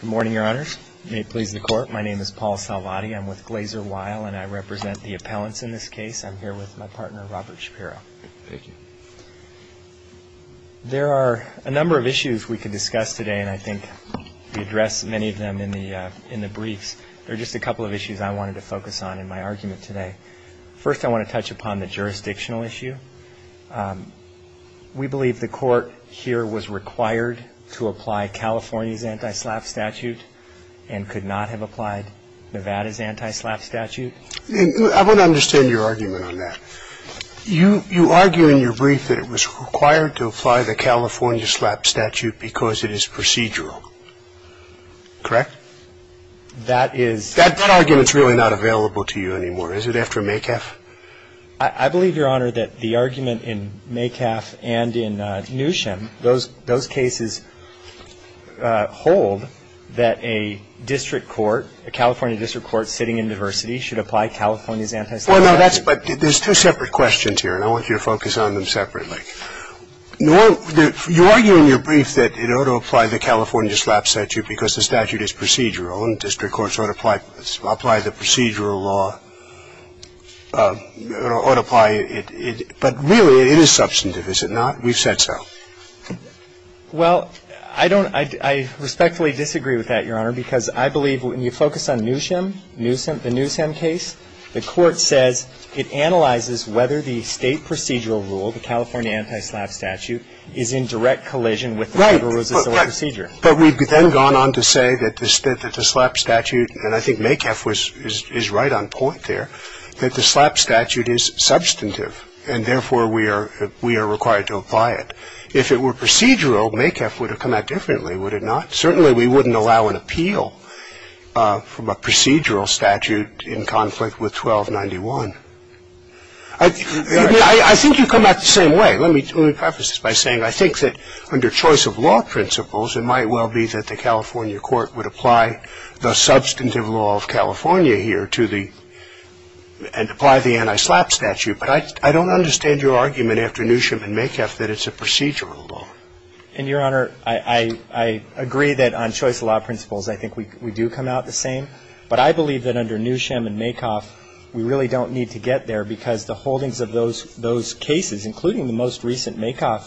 Good morning, Your Honors. May it please the Court. My name is Paul Salvati. I'm with Glaser Weill and I represent the appellants in this case. I'm here with my partner, Robert Shapiro. Thank you. There are a number of issues we could discuss today, and I think we addressed many of them in the briefs. There are just a couple of issues I wanted to focus on in my argument today. First, I want to touch upon the jurisdictional issue. We believe the Court here was required to apply California's anti-SLAPP statute and could not have applied Nevada's anti-SLAPP statute. I want to understand your argument on that. You argue in your brief that it was required to apply the California SLAPP statute because it is procedural. Correct? That is That argument is really not available to you anymore. Is it after Maycaf? I believe, Your Honor, that the argument in Maycaf and in Newsham, those cases hold that a district court, a California district court sitting in diversity, should apply California's anti-SLAPP statute. I think the court should apply the procedural law, or it ought to apply it. But really it is substantive, is it not? We've said so. Well, I don't ‑‑ I respectfully disagree with that, Your Honor, because I believe when you focus on Newsham, Newsham, the Newsham case, the Court says it analyzes whether the state procedural rule, the California anti-SLAPP statute, is in direct collision with the Federal Resistance Law procedure. Right. But we've then gone on to say that the SLAPP statute, and I think Maycaf is right on point there, that the SLAPP statute is substantive, and therefore we are required to apply it. If it were procedural, Maycaf would have come out differently, would it not? Certainly we wouldn't allow an appeal from a procedural statute in conflict with 1291. I think you come at it the same way. Let me preface this by saying I think that under choice of law principles, it might well be that the California court would apply the substantive law of California here to the ‑‑ and apply the anti-SLAPP statute. But I don't understand your argument after Newsham and Maycaf that it's a procedural law. And, Your Honor, I agree that on choice of law principles, I think we do come out the same. But I believe that under Newsham and Maycaf, we really don't need to get there because the holdings of those cases, including the most recent Maycaf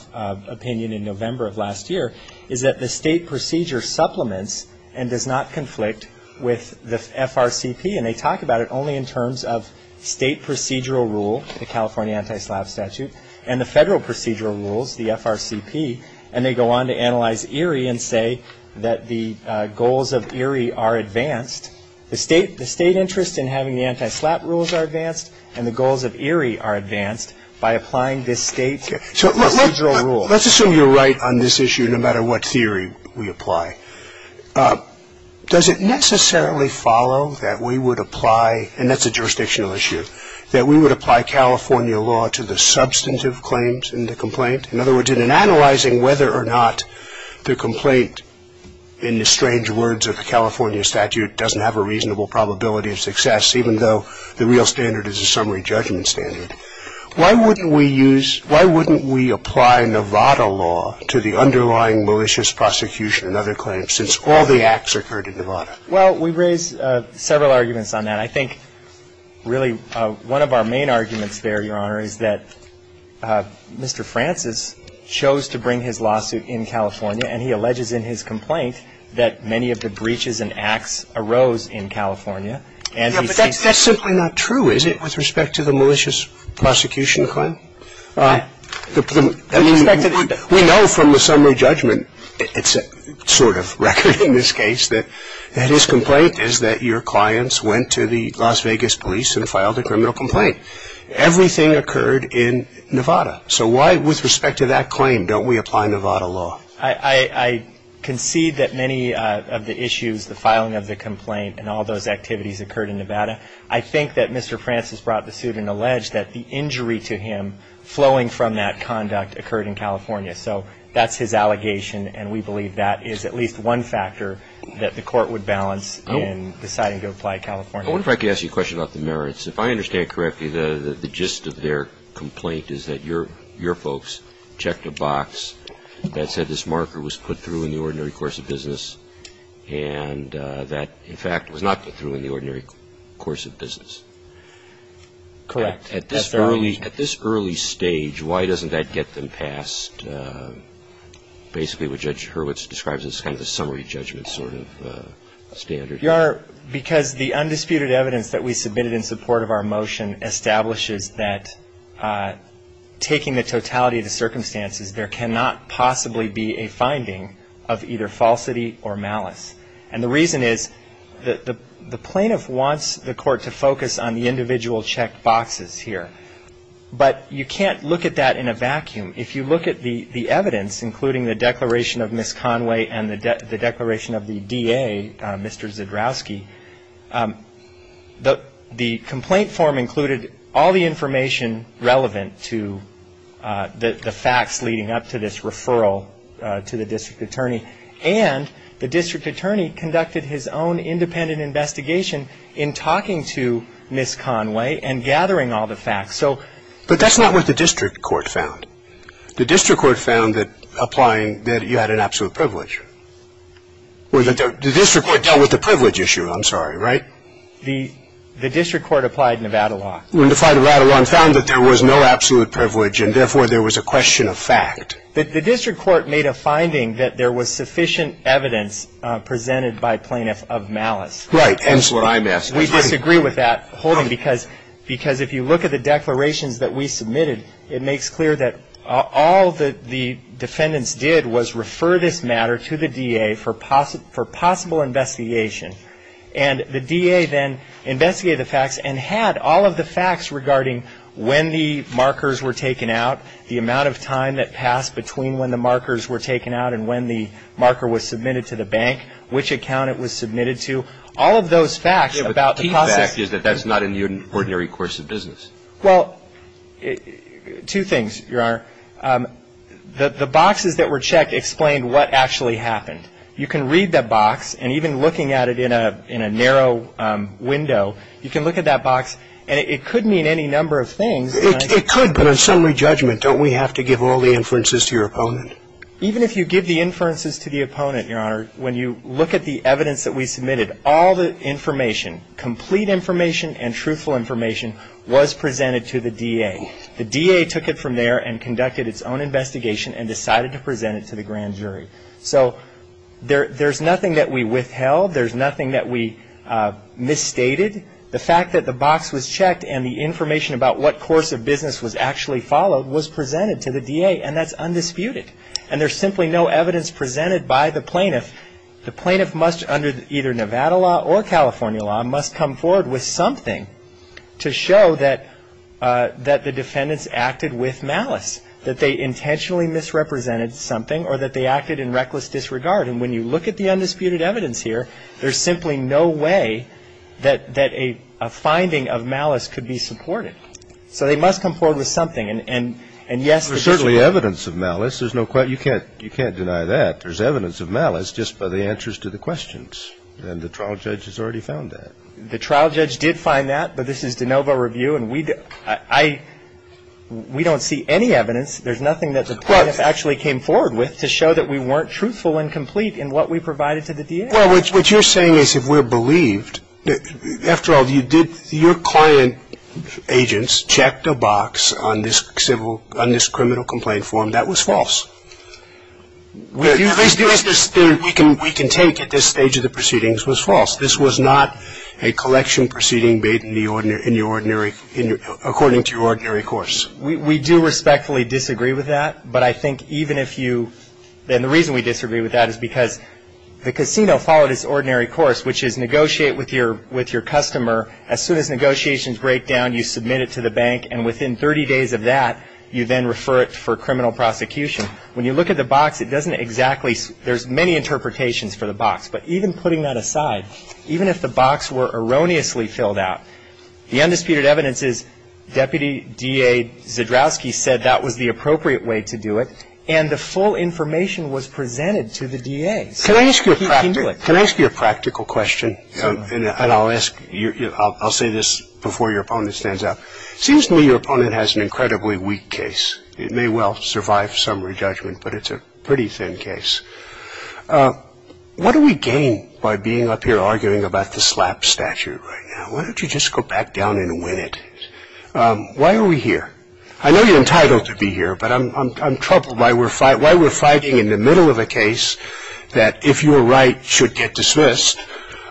opinion in November of last year, is that the state procedure supplements and does not conflict with the FRCP. And they talk about it only in terms of state procedural rule, the California anti-SLAPP statute, and the federal procedural rules, the FRCP. And they go on to analyze Erie and say that the goals of Erie are advanced. The state interest in having the anti-SLAPP rules are advanced. And the goals of Erie are advanced by applying this state procedural rule. So let's assume you're right on this issue no matter what theory we apply. Does it necessarily follow that we would apply ‑‑ and that's a jurisdictional issue ‑‑ that we would apply California law to the substantive claims in the complaint? In other words, in analyzing whether or not the complaint, in the strange words of the California statute, doesn't have a reasonable probability of success, even though the real standard is a summary judgment standard, why wouldn't we use ‑‑ why wouldn't we apply Nevada law to the underlying malicious prosecution and other claims, since all the acts occurred in Nevada? Well, we raise several arguments on that. I think really one of our main arguments there, Your Honor, is that Mr. Francis chose to bring his lawsuit in California, and he alleges in his complaint that many of the breaches and acts arose in California. Yeah, but that's simply not true, is it, with respect to the malicious prosecution claim? I mean, we know from the summary judgment, it's sort of record in this case, that his complaint is that your clients went to the Las Vegas police and filed a criminal complaint. Everything occurred in Nevada. So why, with respect to that claim, don't we apply Nevada law? I concede that many of the issues, the filing of the complaint and all those activities occurred in Nevada. I think that Mr. Francis brought the suit and alleged that the injury to him flowing from that conduct occurred in California. So that's his allegation, and we believe that is at least one factor that the court would balance in deciding to apply California. I wonder if I could ask you a question about the merits. If I understand correctly, the gist of their complaint is that your folks checked a box that said this marker was put through in the ordinary course of business, and that, in fact, was not put through in the ordinary course of business. Correct. At this early stage, why doesn't that get them past basically what Judge Hurwitz describes as kind of the summary judgment sort of standard? Your Honor, because the undisputed evidence that we submitted in support of our motion establishes that taking the totality of the circumstances, there cannot possibly be a finding of either falsity or malice. And the reason is the plaintiff wants the court to focus on the individual checked boxes here, but you can't look at that in a vacuum. If you look at the evidence, including the declaration of Ms. Conway and the declaration of the DA, Mr. Zdrowski, the complaint form included all the information relevant to the facts leading up to this referral to the district attorney, and the district attorney conducted his own independent investigation in talking to Ms. Conway and gathering all the facts. But that's not what the district court found. The district court found that applying that you had an absolute privilege. The district court dealt with the privilege issue, I'm sorry, right? The district court applied Nevada law. Applied Nevada law and found that there was no absolute privilege and, therefore, there was a question of fact. The district court made a finding that there was sufficient evidence presented by plaintiff of malice. Right. That's what I'm asking. We disagree with that holding because if you look at the declarations that we submitted, it makes clear that all that the defendants did was refer this matter to the DA for possible investigation. And the DA then investigated the facts and had all of the facts regarding when the markers were taken out, the amount of time that passed between when the markers were taken out and when the marker was submitted to the bank, which account it was submitted to, all of those facts about the process. Yeah, but the key fact is that that's not in the ordinary course of business. Well, two things, Your Honor. The boxes that were checked explained what actually happened. You can read that box, and even looking at it in a narrow window, you can look at that box, and it could mean any number of things. It could, but on summary judgment, don't we have to give all the inferences to your opponent? Even if you give the inferences to the opponent, Your Honor, when you look at the evidence that we submitted, all the information, complete information and truthful information, was presented to the DA. The DA took it from there and conducted its own investigation and decided to present it to the grand jury. So there's nothing that we withheld. There's nothing that we misstated. The fact that the box was checked and the information about what course of business was actually followed was presented to the DA, and that's undisputed. And there's simply no evidence presented by the plaintiff. The plaintiff must, under either Nevada law or California law, must come forward with something to show that the defendants acted with malice, that they intentionally misrepresented something or that they acted in reckless disregard. And when you look at the undisputed evidence here, there's simply no way that a finding of malice could be supported. So they must come forward with something. And, yes, there's no question. There's certainly evidence of malice. There's no question. You can't deny that. There's evidence of malice just by the answers to the questions, and the trial judge has already found that. The trial judge did find that, but this is de novo review, and we don't see any evidence. There's nothing that the plaintiff actually came forward with to show that we weren't truthful and complete in what we provided to the DA. Well, what you're saying is if we're believed, after all, your client agents checked a box on this criminal complaint form. That was false. The evidence that we can take at this stage of the proceedings was false. This was not a collection proceeding made according to your ordinary course. We do respectfully disagree with that, but I think even if you – and the reason we disagree with that is because the casino followed its ordinary course, which is negotiate with your customer. As soon as negotiations break down, you submit it to the bank, and within 30 days of that, you then refer it for criminal prosecution. When you look at the box, it doesn't exactly – there's many interpretations for the box. But even putting that aside, even if the box were erroneously filled out, the undisputed evidence is Deputy DA Zdravsky said that was the appropriate way to do it, and the full information was presented to the DA. So he can do it. Can I ask you a practical question? And I'll ask – I'll say this before your opponent stands up. It seems to me your opponent has an incredibly weak case. It may well survive summary judgment, but it's a pretty thin case. What do we gain by being up here arguing about the SLAP statute right now? Why don't you just go back down and win it? Why are we here? I know you're entitled to be here, but I'm troubled by why we're fighting in the middle of a case that if you're right should get dismissed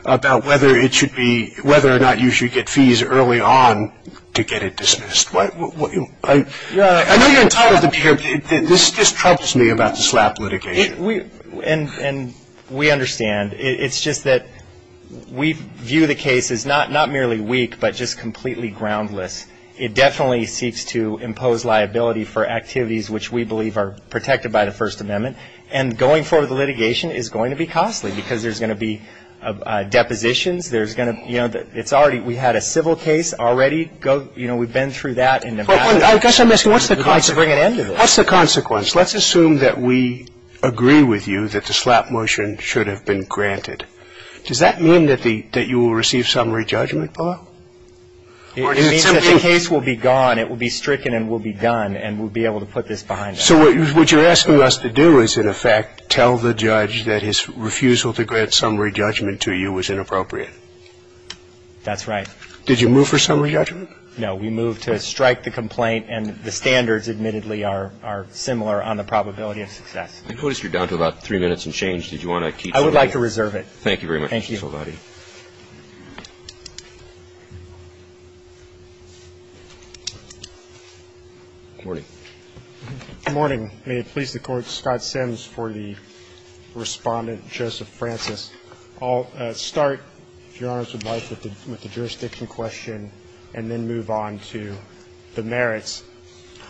about whether it should be – whether or not you should get fees early on to get it dismissed. I know you're entitled to be here, but this troubles me about the SLAP litigation. And we understand. It's just that we view the case as not merely weak, but just completely groundless. It definitely seeks to impose liability for activities which we believe are protected by the First Amendment. And going forward, the litigation is going to be costly because there's going to be depositions. There's going to – you know, it's already – we had a civil case already. You know, we've been through that in Nevada. I guess I'm asking what's the consequence? What's the consequence? Let's assume that we agree with you that the SLAP motion should have been granted. Does that mean that you will receive summary judgment, Bob? It means that the case will be gone. It will be stricken and will be done, and we'll be able to put this behind us. So what you're asking us to do is, in effect, tell the judge that his refusal to grant summary judgment to you was inappropriate. That's right. Did you move for summary judgment? No. We moved to strike the complaint, and the standards, admittedly, are similar on the probability of success. I notice you're down to about three minutes and change. Did you want to keep somebody? I would like to reserve it. Thank you very much, Mr. Salvati. Thank you. Good morning. Good morning. May it please the Court, Scott Sims for the Respondent, Joseph Francis. I'll start, if Your Honors would like, with the jurisdiction question and then move on to the merits.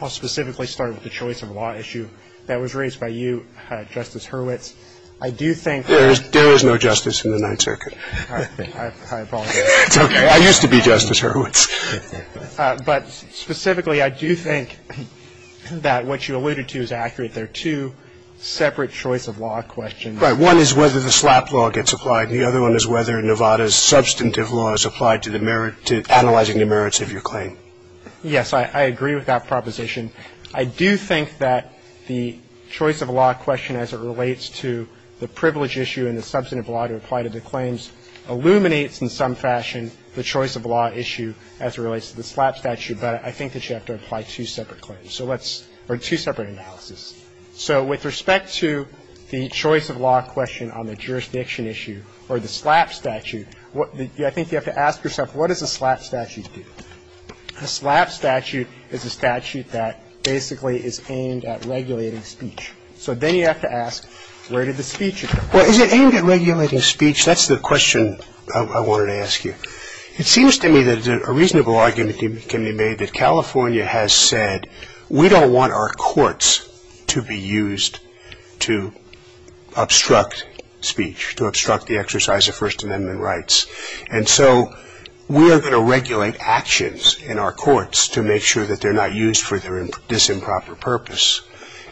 I'll specifically start with the choice of law issue that was raised by you, Justice Hurwitz. I do think that there is no justice in the Ninth Circuit. I apologize. It's okay. I used to be Justice Hurwitz. But specifically, I do think that what you alluded to is accurate. There are two separate choice of law questions. Right. One is whether the SLAP law gets applied. The other one is whether Nevada's substantive law is applied to analyzing the merits of your claim. Yes, I agree with that proposition. I do think that the choice of law question as it relates to the privilege issue and the substantive law to apply to the claims illuminates in some fashion the choice of law issue as it relates to the SLAP statute. But I think that you have to apply two separate claims, or two separate analyses. So with respect to the choice of law question on the jurisdiction issue or the SLAP statute, I think you have to ask yourself, what does a SLAP statute do? A SLAP statute is a statute that basically is aimed at regulating speech. So then you have to ask, where did the speech occur? Well, is it aimed at regulating speech? That's the question I wanted to ask you. It seems to me that a reasonable argument can be made that California has said, we don't want our courts to be used to obstruct speech, to obstruct the exercise of First Amendment rights. And so we are going to regulate actions in our courts to make sure that they're not used for this improper purpose.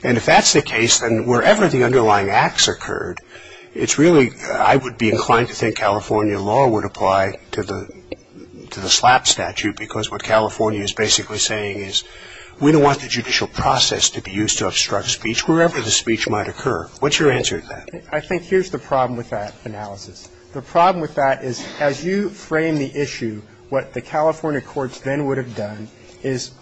And if that's the case, then wherever the underlying acts occurred, it's really, I would be inclined to think California law would apply to the SLAP statute because what California is basically saying is we don't want the judicial process to be used to obstruct speech wherever the speech might occur. What's your answer to that? I think here's the problem with that analysis. The problem with that is as you frame the issue, what the California courts then would have done is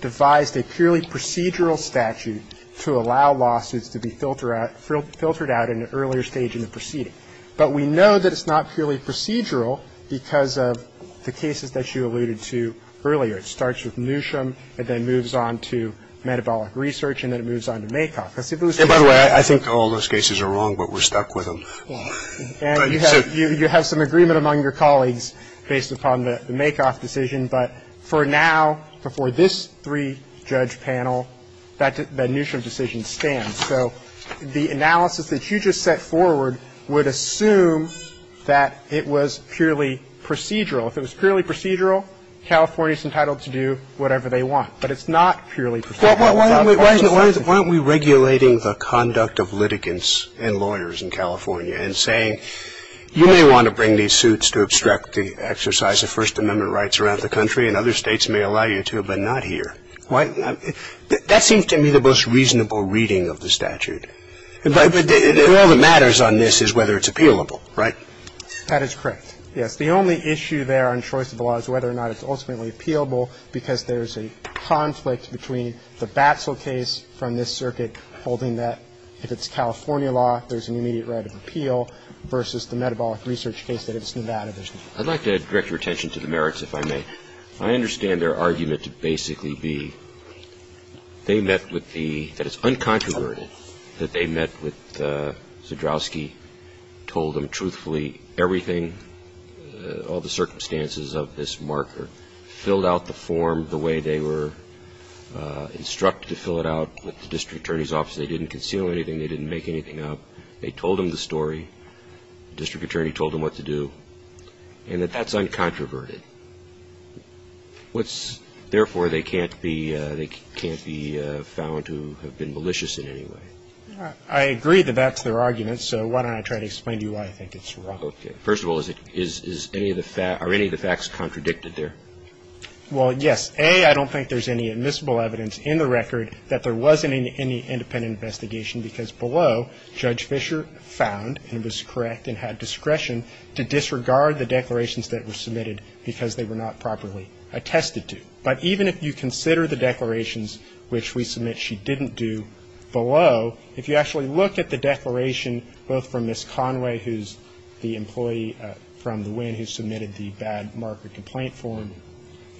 devised a purely procedural statute to allow lawsuits to be filtered out in an earlier stage in the proceeding. But we know that it's not purely procedural because of the cases that you alluded to earlier. It starts with Newsham and then moves on to metabolic research and then it moves on to MAKOF. By the way, I think all those cases are wrong, but we're stuck with them. And you have some agreement among your colleagues based upon the MAKOF decision, but for now, before this three-judge panel, that Newsham decision stands. So the analysis that you just set forward would assume that it was purely procedural. If it was purely procedural, California is entitled to do whatever they want. But it's not purely procedural. Why aren't we regulating the conduct of litigants and lawyers in California and saying you may want to bring these suits to obstruct the exercise of First Amendment rights around the country and other states may allow you to, but not here? Why? That seems to me the most reasonable reading of the statute. All that matters on this is whether it's appealable, right? That is correct. Yes. The only issue there on choice of law is whether or not it's ultimately appealable because there's a conflict between the Batsell case from this circuit holding that if it's California law, there's an immediate right of appeal, versus the metabolic research case that it's Nevada. I'd like to direct your attention to the merits, if I may. I understand their argument to basically be they met with the, that it's uncontroverted that they met with Zdrowski, told him truthfully everything, all the circumstances of this marker, filled out the form the way they were instructed to fill it out with the district attorney's office. They didn't conceal anything. They didn't make anything up. They told him the story. The district attorney told him what to do. And that that's uncontroverted. What's, therefore, they can't be, they can't be found to have been malicious in any way. I agree that that's their argument, so why don't I try to explain to you why I think it's wrong. Okay. First of all, is it, is any of the facts, are any of the facts contradicted there? Well, yes. A, I don't think there's any admissible evidence in the record that there wasn't any independent investigation because below Judge Fischer found, and was correct and had discretion, to disregard the declarations that were submitted because they were not properly attested to. But even if you consider the declarations which we submit she didn't do below, if you actually look at the declaration both from Ms. Conway, who's the employee from the WIN who submitted the bad marker complaint form,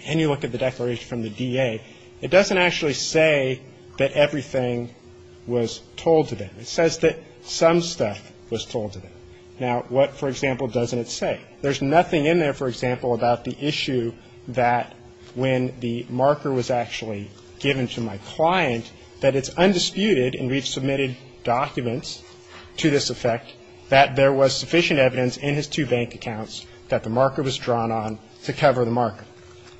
and you look at the declaration from the DA, it doesn't actually say that everything was told to them. It says that some stuff was told to them. Now, what, for example, doesn't it say? There's nothing in there, for example, about the issue that when the marker was actually given to my client that it's undisputed, and we've submitted documents to this effect, that there was sufficient evidence in his two bank accounts that the marker was drawn on to cover the marker.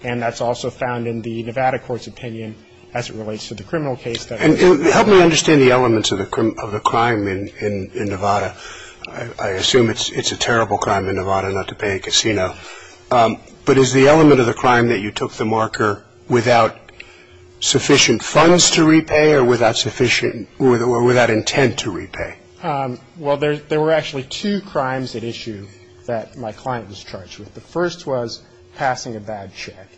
And that's also found in the Nevada court's opinion as it relates to the criminal case. And help me understand the elements of the crime in Nevada. I assume it's a terrible crime in Nevada not to pay a casino. But is the element of the crime that you took the marker without sufficient funds to repay or without intent to repay? Well, there were actually two crimes at issue that my client was charged with. The first was passing a bad check.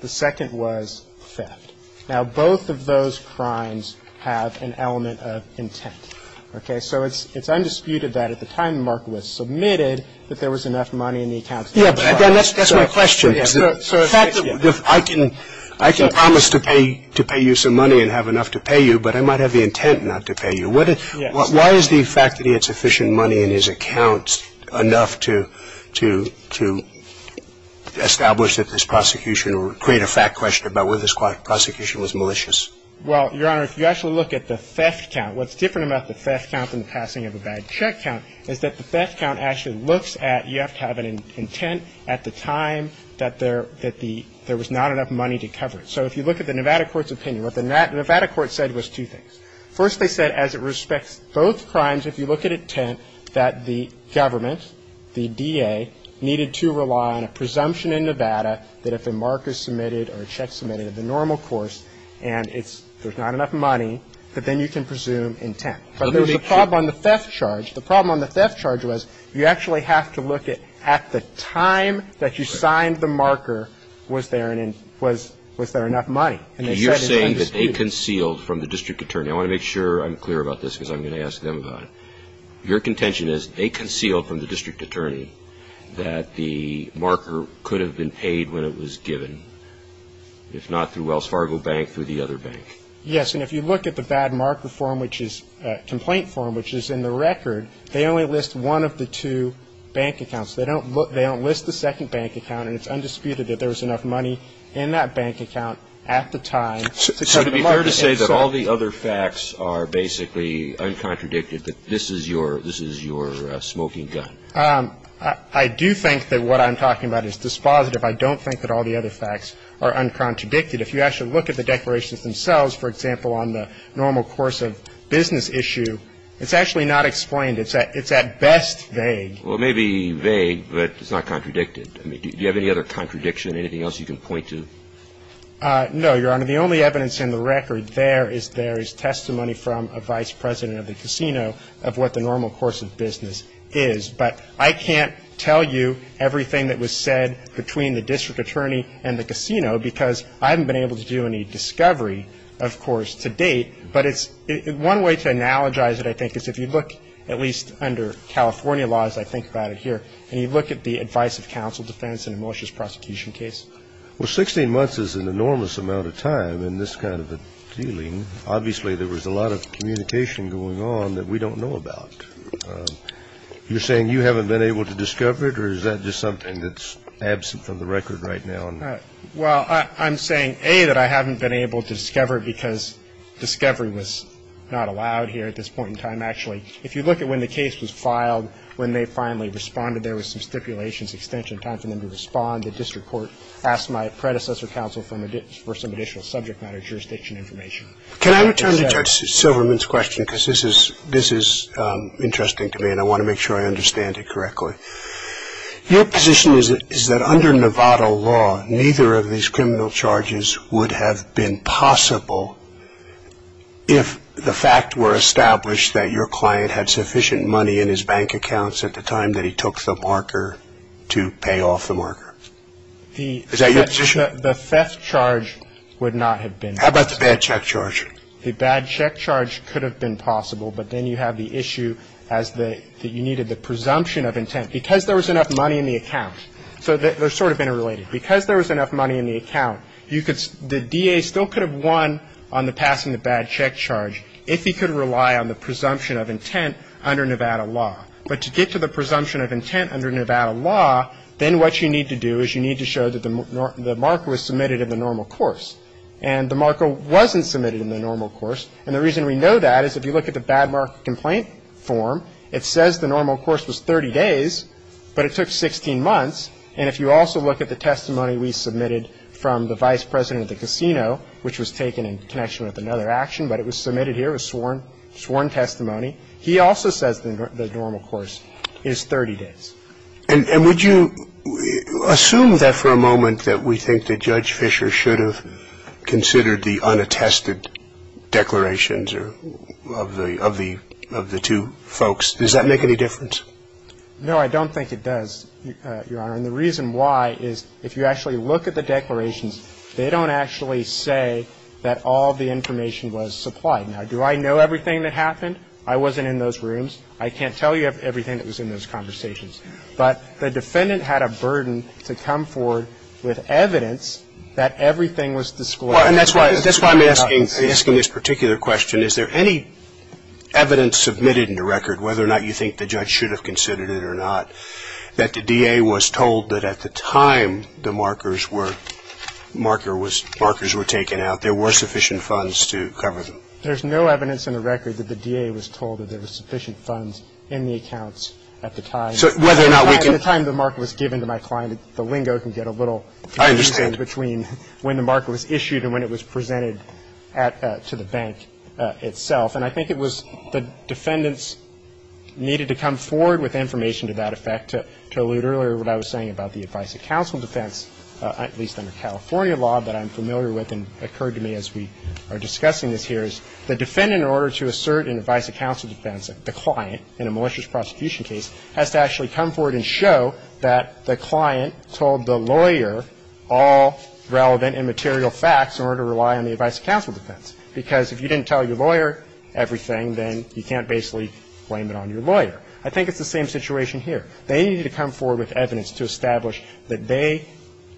The second was theft. Now, both of those crimes have an element of intent. Okay? So it's undisputed that at the time the marker was submitted, that there was enough money in the account. Yeah, but again, that's my question. The fact that I can promise to pay you some money and have enough to pay you, but I might have the intent not to pay you. Why is the fact that he had sufficient money in his accounts enough to establish that this prosecution or create a fact question about whether this prosecution was malicious? Well, Your Honor, if you actually look at the theft count, what's different about the theft count than the passing of a bad check count is that the theft count actually looks at you have to have an intent at the time that there was not enough money to cover it. So if you look at the Nevada court's opinion, what the Nevada court said was two things. First, they said as it respects both crimes, if you look at intent, that the government, the DA, needed to rely on a presumption in Nevada that if a mark is submitted or a check is submitted of the normal course and there's not enough money, that then you can presume intent. But there was a problem on the theft charge. The problem on the theft charge was you actually have to look at the time that you signed the marker was there enough money. And you're saying that they concealed from the district attorney. I want to make sure I'm clear about this because I'm going to ask them about it. Your contention is they concealed from the district attorney that the marker could have been paid when it was given, if not through Wells Fargo Bank, through the other bank. Yes. And if you look at the bad marker form, which is a complaint form, which is in the record, they only list one of the two bank accounts. They don't list the second bank account, and it's undisputed that there was enough money in that bank account at the time. So to be fair to say that all the other facts are basically uncontradicted, that this is your smoking gun? I do think that what I'm talking about is dispositive. I don't think that all the other facts are uncontradicted. If you actually look at the declarations themselves, for example, on the normal course of business issue, it's actually not explained. It's at best vague. Well, it may be vague, but it's not contradicted. I mean, do you have any other contradiction, anything else you can point to? No, Your Honor. The only evidence in the record there is there is testimony from a vice president of the casino of what the normal course of business is. But I can't tell you everything that was said between the district attorney and the casino, because I haven't been able to do any discovery, of course, to date. But it's one way to analogize it, I think, is if you look at least under California laws, I think about it here, and you look at the advice of counsel defense in a malicious prosecution case. Well, 16 months is an enormous amount of time in this kind of a dealing. Obviously, there was a lot of communication going on that we don't know about. You're saying you haven't been able to discover it, or is that just something that's absent from the record right now? Well, I'm saying, A, that I haven't been able to discover it because discovery was not allowed here at this point in time. Actually, if you look at when the case was filed, when they finally responded, there was some stipulations, extension of time for them to respond. The district court asked my predecessor counsel for some additional subject matter jurisdiction information. Can I return to Judge Silverman's question? Because this is interesting to me, and I want to make sure I understand it correctly. Your position is that under Nevada law, neither of these criminal charges would have been possible if the fact were established that your client had sufficient money in his bank accounts at the time that he took the marker to pay off the marker. Is that your position? The theft charge would not have been possible. How about the bad check charge? The bad check charge could have been possible, but then you have the issue that you needed the presumption of intent. Because there was enough money in the account, so they're sort of interrelated. Because there was enough money in the account, the DA still could have won on the passing the bad check charge if he could rely on the presumption of intent under Nevada law. But to get to the presumption of intent under Nevada law, then what you need to do is you need to show that the marker was submitted in the normal course. And the marker wasn't submitted in the normal course, and the reason we know that is if you look at the bad mark complaint form, it says the normal course was 30 days, but it took 16 months. And if you also look at the testimony we submitted from the vice president of the casino, which was taken in connection with another action, but it was submitted here, it was sworn testimony, he also says the normal course is 30 days. And would you assume that for a moment, that we think that Judge Fisher should have considered the unattested declarations of the two folks? Does that make any difference? No, I don't think it does, Your Honor. And the reason why is if you actually look at the declarations, they don't actually say that all the information was supplied. Now, do I know everything that happened? I wasn't in those rooms. I can't tell you everything that was in those conversations. But the defendant had a burden to come forward with evidence that everything was displayed. And that's why I'm asking this particular question. Is there any evidence submitted in the record, whether or not you think the judge should have considered it or not, that the DA was told that at the time the markers were taken out, there were sufficient funds to cover them? There's no evidence in the record that the DA was told that there were sufficient funds in the accounts at the time. So whether or not we can – At the time the marker was given to my client, the lingo can get a little confusing between when the marker was issued and when it was presented to the bank itself. And I think it was the defendants needed to come forward with information to that effect. To allude earlier to what I was saying about the advice of counsel defense, at least under California law that I'm familiar with and occurred to me as we are discussing this here, is the defendant, in order to assert an advice of counsel defense, the client in a malicious prosecution case has to actually come forward and show that the client told the lawyer all relevant and material facts in order to rely on the advice of counsel defense. Because if you didn't tell your lawyer everything, then you can't basically blame it on your lawyer. I think it's the same situation here. They needed to come forward with evidence to establish that they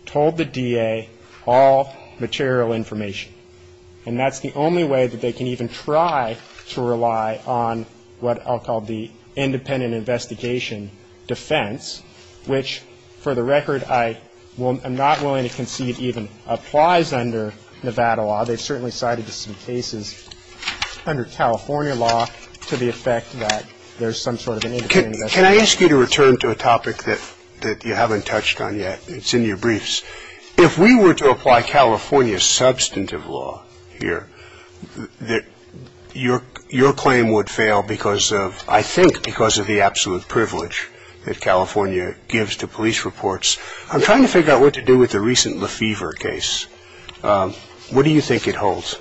told the DA all material information. And that's the only way that they can even try to rely on what I'll call the independent investigation defense, which, for the record, I'm not willing to concede even applies under Nevada law. They've certainly cited some cases under California law to the effect that there's some sort of an independent investigation. Can I ask you to return to a topic that you haven't touched on yet? It's in your briefs. If we were to apply California's substantive law here, your claim would fail because of, I think, because of the absolute privilege that California gives to police reports. I'm trying to figure out what to do with the recent Lefevre case. What do you think it holds?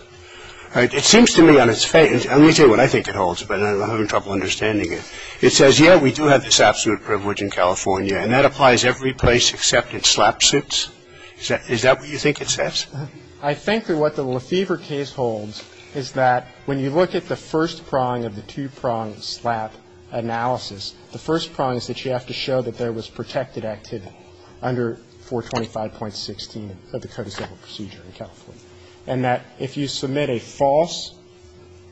It seems to me on its face, and let me tell you what I think it holds, but I'm having trouble understanding it. It says, yeah, we do have this absolute privilege in California, and that applies every place except in SLAP suits. Is that what you think it says? I think that what the Lefevre case holds is that when you look at the first prong of the two-pronged SLAP analysis, the first prong is that you have to show that there was protected activity under 425.16 of the Code of Civil Procedure in California, and that if you submit a false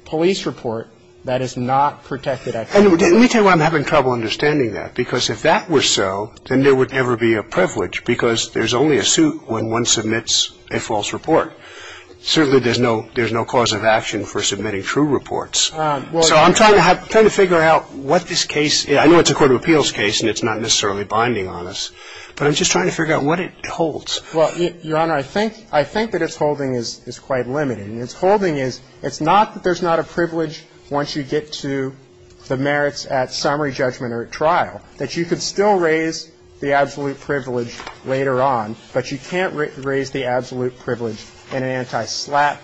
police report, that is not protected activity. Let me tell you why I'm having trouble understanding that, because if that were so, then there would never be a privilege because there's only a suit when one submits a false report. Certainly, there's no cause of action for submitting true reports. So I'm trying to figure out what this case is. I know it's a court of appeals case, and it's not necessarily binding on us, but I'm just trying to figure out what it holds. Well, Your Honor, I think that its holding is quite limited. And its holding is it's not that there's not a privilege once you get to the merits at summary judgment or at trial, that you could still raise the absolute privilege later on, but you can't raise the absolute privilege in an anti-SLAP.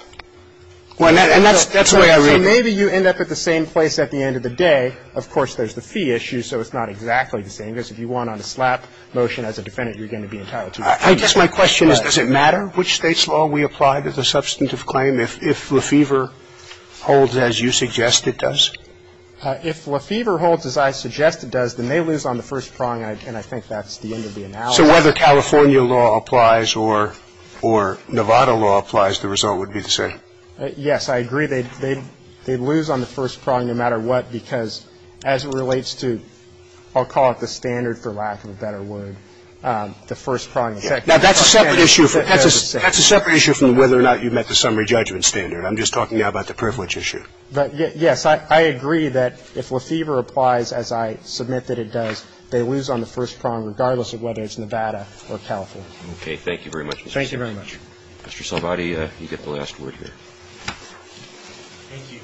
And that's the way I read it. So maybe you end up at the same place at the end of the day. Of course, there's the fee issue, so it's not exactly the same. Because if you won on a SLAP motion as a defendant, you're going to be entitled to a penalty. I guess my question is, does it matter which State's law we apply to the substantive claim? If Lefevre holds as you suggest it does? If Lefevre holds as I suggest it does, then they lose on the first prong, and I think that's the end of the analysis. So whether California law applies or Nevada law applies, the result would be the same. Yes, I agree. They lose on the first prong no matter what because as it relates to, I'll call it the standard for lack of a better word, the first prong. Now, that's a separate issue from whether or not you've met the summary judgment standard. I'm just talking about the privilege issue. But, yes, I agree that if Lefevre applies as I submit that it does, they lose on the first prong regardless of whether it's Nevada or California. Okay. Thank you very much. Thank you very much. Mr. Salvati, you get the last word here. Thank you.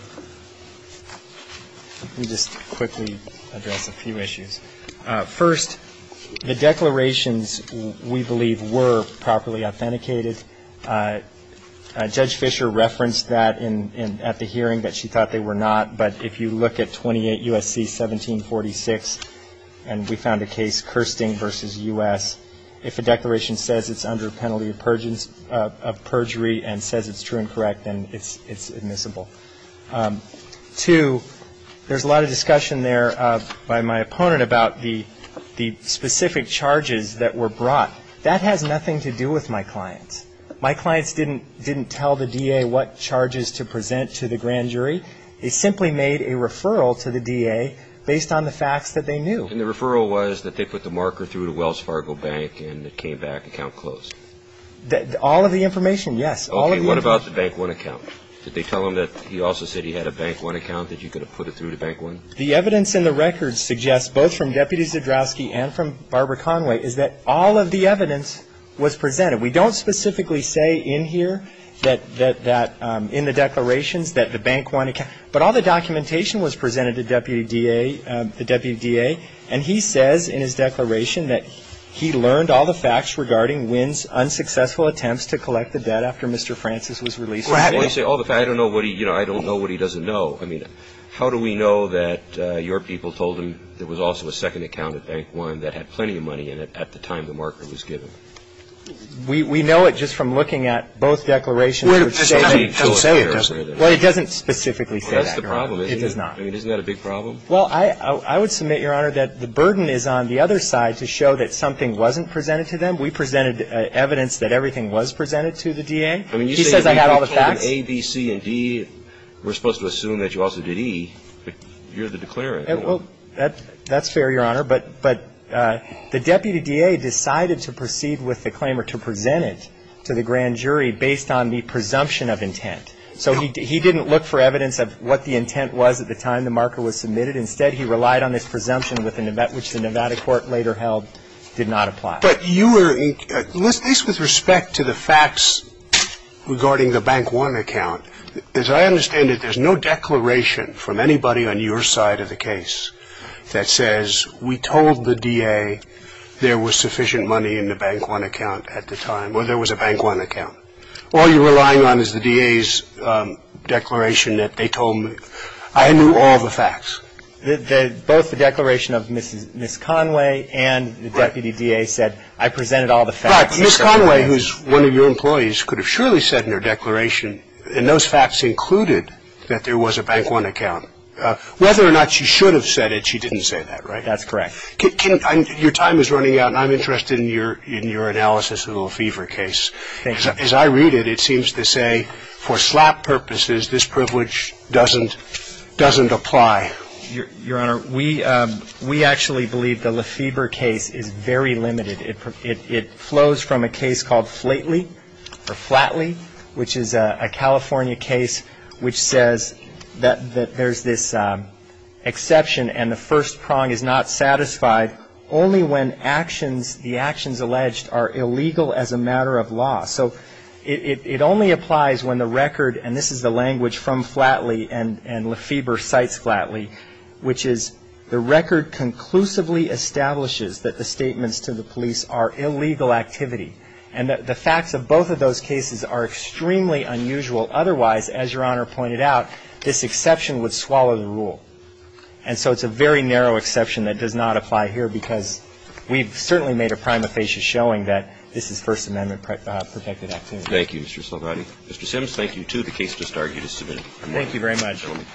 Let me just quickly address a few issues. First, the declarations, we believe, were properly authenticated. Judge Fisher referenced that at the hearing, that she thought they were not. But if you look at 28 U.S.C. 1746, and we found a case, Kirsting v. U.S., if a declaration says it's under penalty of perjury and says it's true and correct, then it's admissible. Two, there's a lot of discussion there by my opponent about the specific charges that were brought. That has nothing to do with my clients. My clients didn't tell the DA what charges to present to the grand jury. They simply made a referral to the DA based on the facts that they knew. And the referral was that they put the marker through to Wells Fargo Bank and it came back account closed? All of the information, yes. Okay. What about the Bank One account? Did they tell him that he also said he had a Bank One account, that you could have put it through to Bank One? The evidence in the records suggests, both from Deputy Zdrowski and from Barbara Conway, is that all of the evidence was presented. We don't specifically say in here that in the declarations that the Bank One account. But all the documentation was presented to the deputy DA. And he says in his declaration that he learned all the facts regarding Winn's unsuccessful attempts to collect the debt after Mr. Francis was released. Well, I don't know what he doesn't know. I mean, how do we know that your people told him there was also a second account at Bank One that had plenty of money in it at the time the marker was given? We know it just from looking at both declarations. Well, it doesn't specifically say that, Your Honor. It does not. I mean, isn't that a big problem? Well, I would submit, Your Honor, that the burden is on the other side to show that something wasn't presented to them. We presented evidence that everything was presented to the DA. He says I got all the facts. But A, B, C, and D, we're supposed to assume that you also did E. You're the declarant. Well, that's fair, Your Honor. But the deputy DA decided to proceed with the claim or to present it to the grand jury based on the presumption of intent. So he didn't look for evidence of what the intent was at the time the marker was submitted. Instead, he relied on his presumption, which the Nevada court later held did not apply. But you were – at least with respect to the facts regarding the Bank One account, as I understand it, there's no declaration from anybody on your side of the case that says we told the DA there was sufficient money in the Bank One account at the time or there was a Bank One account. All you're relying on is the DA's declaration that they told me I knew all the facts. Both the declaration of Ms. Conway and the deputy DA said I presented all the facts. Right. Ms. Conway, who's one of your employees, could have surely said in her declaration, and those facts included that there was a Bank One account. Whether or not she should have said it, she didn't say that, right? That's correct. Your time is running out, and I'm interested in your analysis of the fever case. Thank you. As I read it, it seems to say for slap purposes, this privilege doesn't apply. Your Honor, we actually believe the Lefebvre case is very limited. It flows from a case called Flatley, which is a California case which says that there's this exception and the first prong is not satisfied only when the actions alleged are illegal as a matter of law. So it only applies when the record, and this is the language from Flatley and Lefebvre cites Flatley, which is the record conclusively establishes that the statements to the police are illegal activity. And the facts of both of those cases are extremely unusual. Otherwise, as Your Honor pointed out, this exception would swallow the rule. And so it's a very narrow exception that does not apply here, because we've certainly made a prima facie showing that this is First Amendment protected activity. Thank you, Mr. Salvati. Mr. Sims, thank you, too. The case just argued is submitted. Thank you very much. Gentlemen.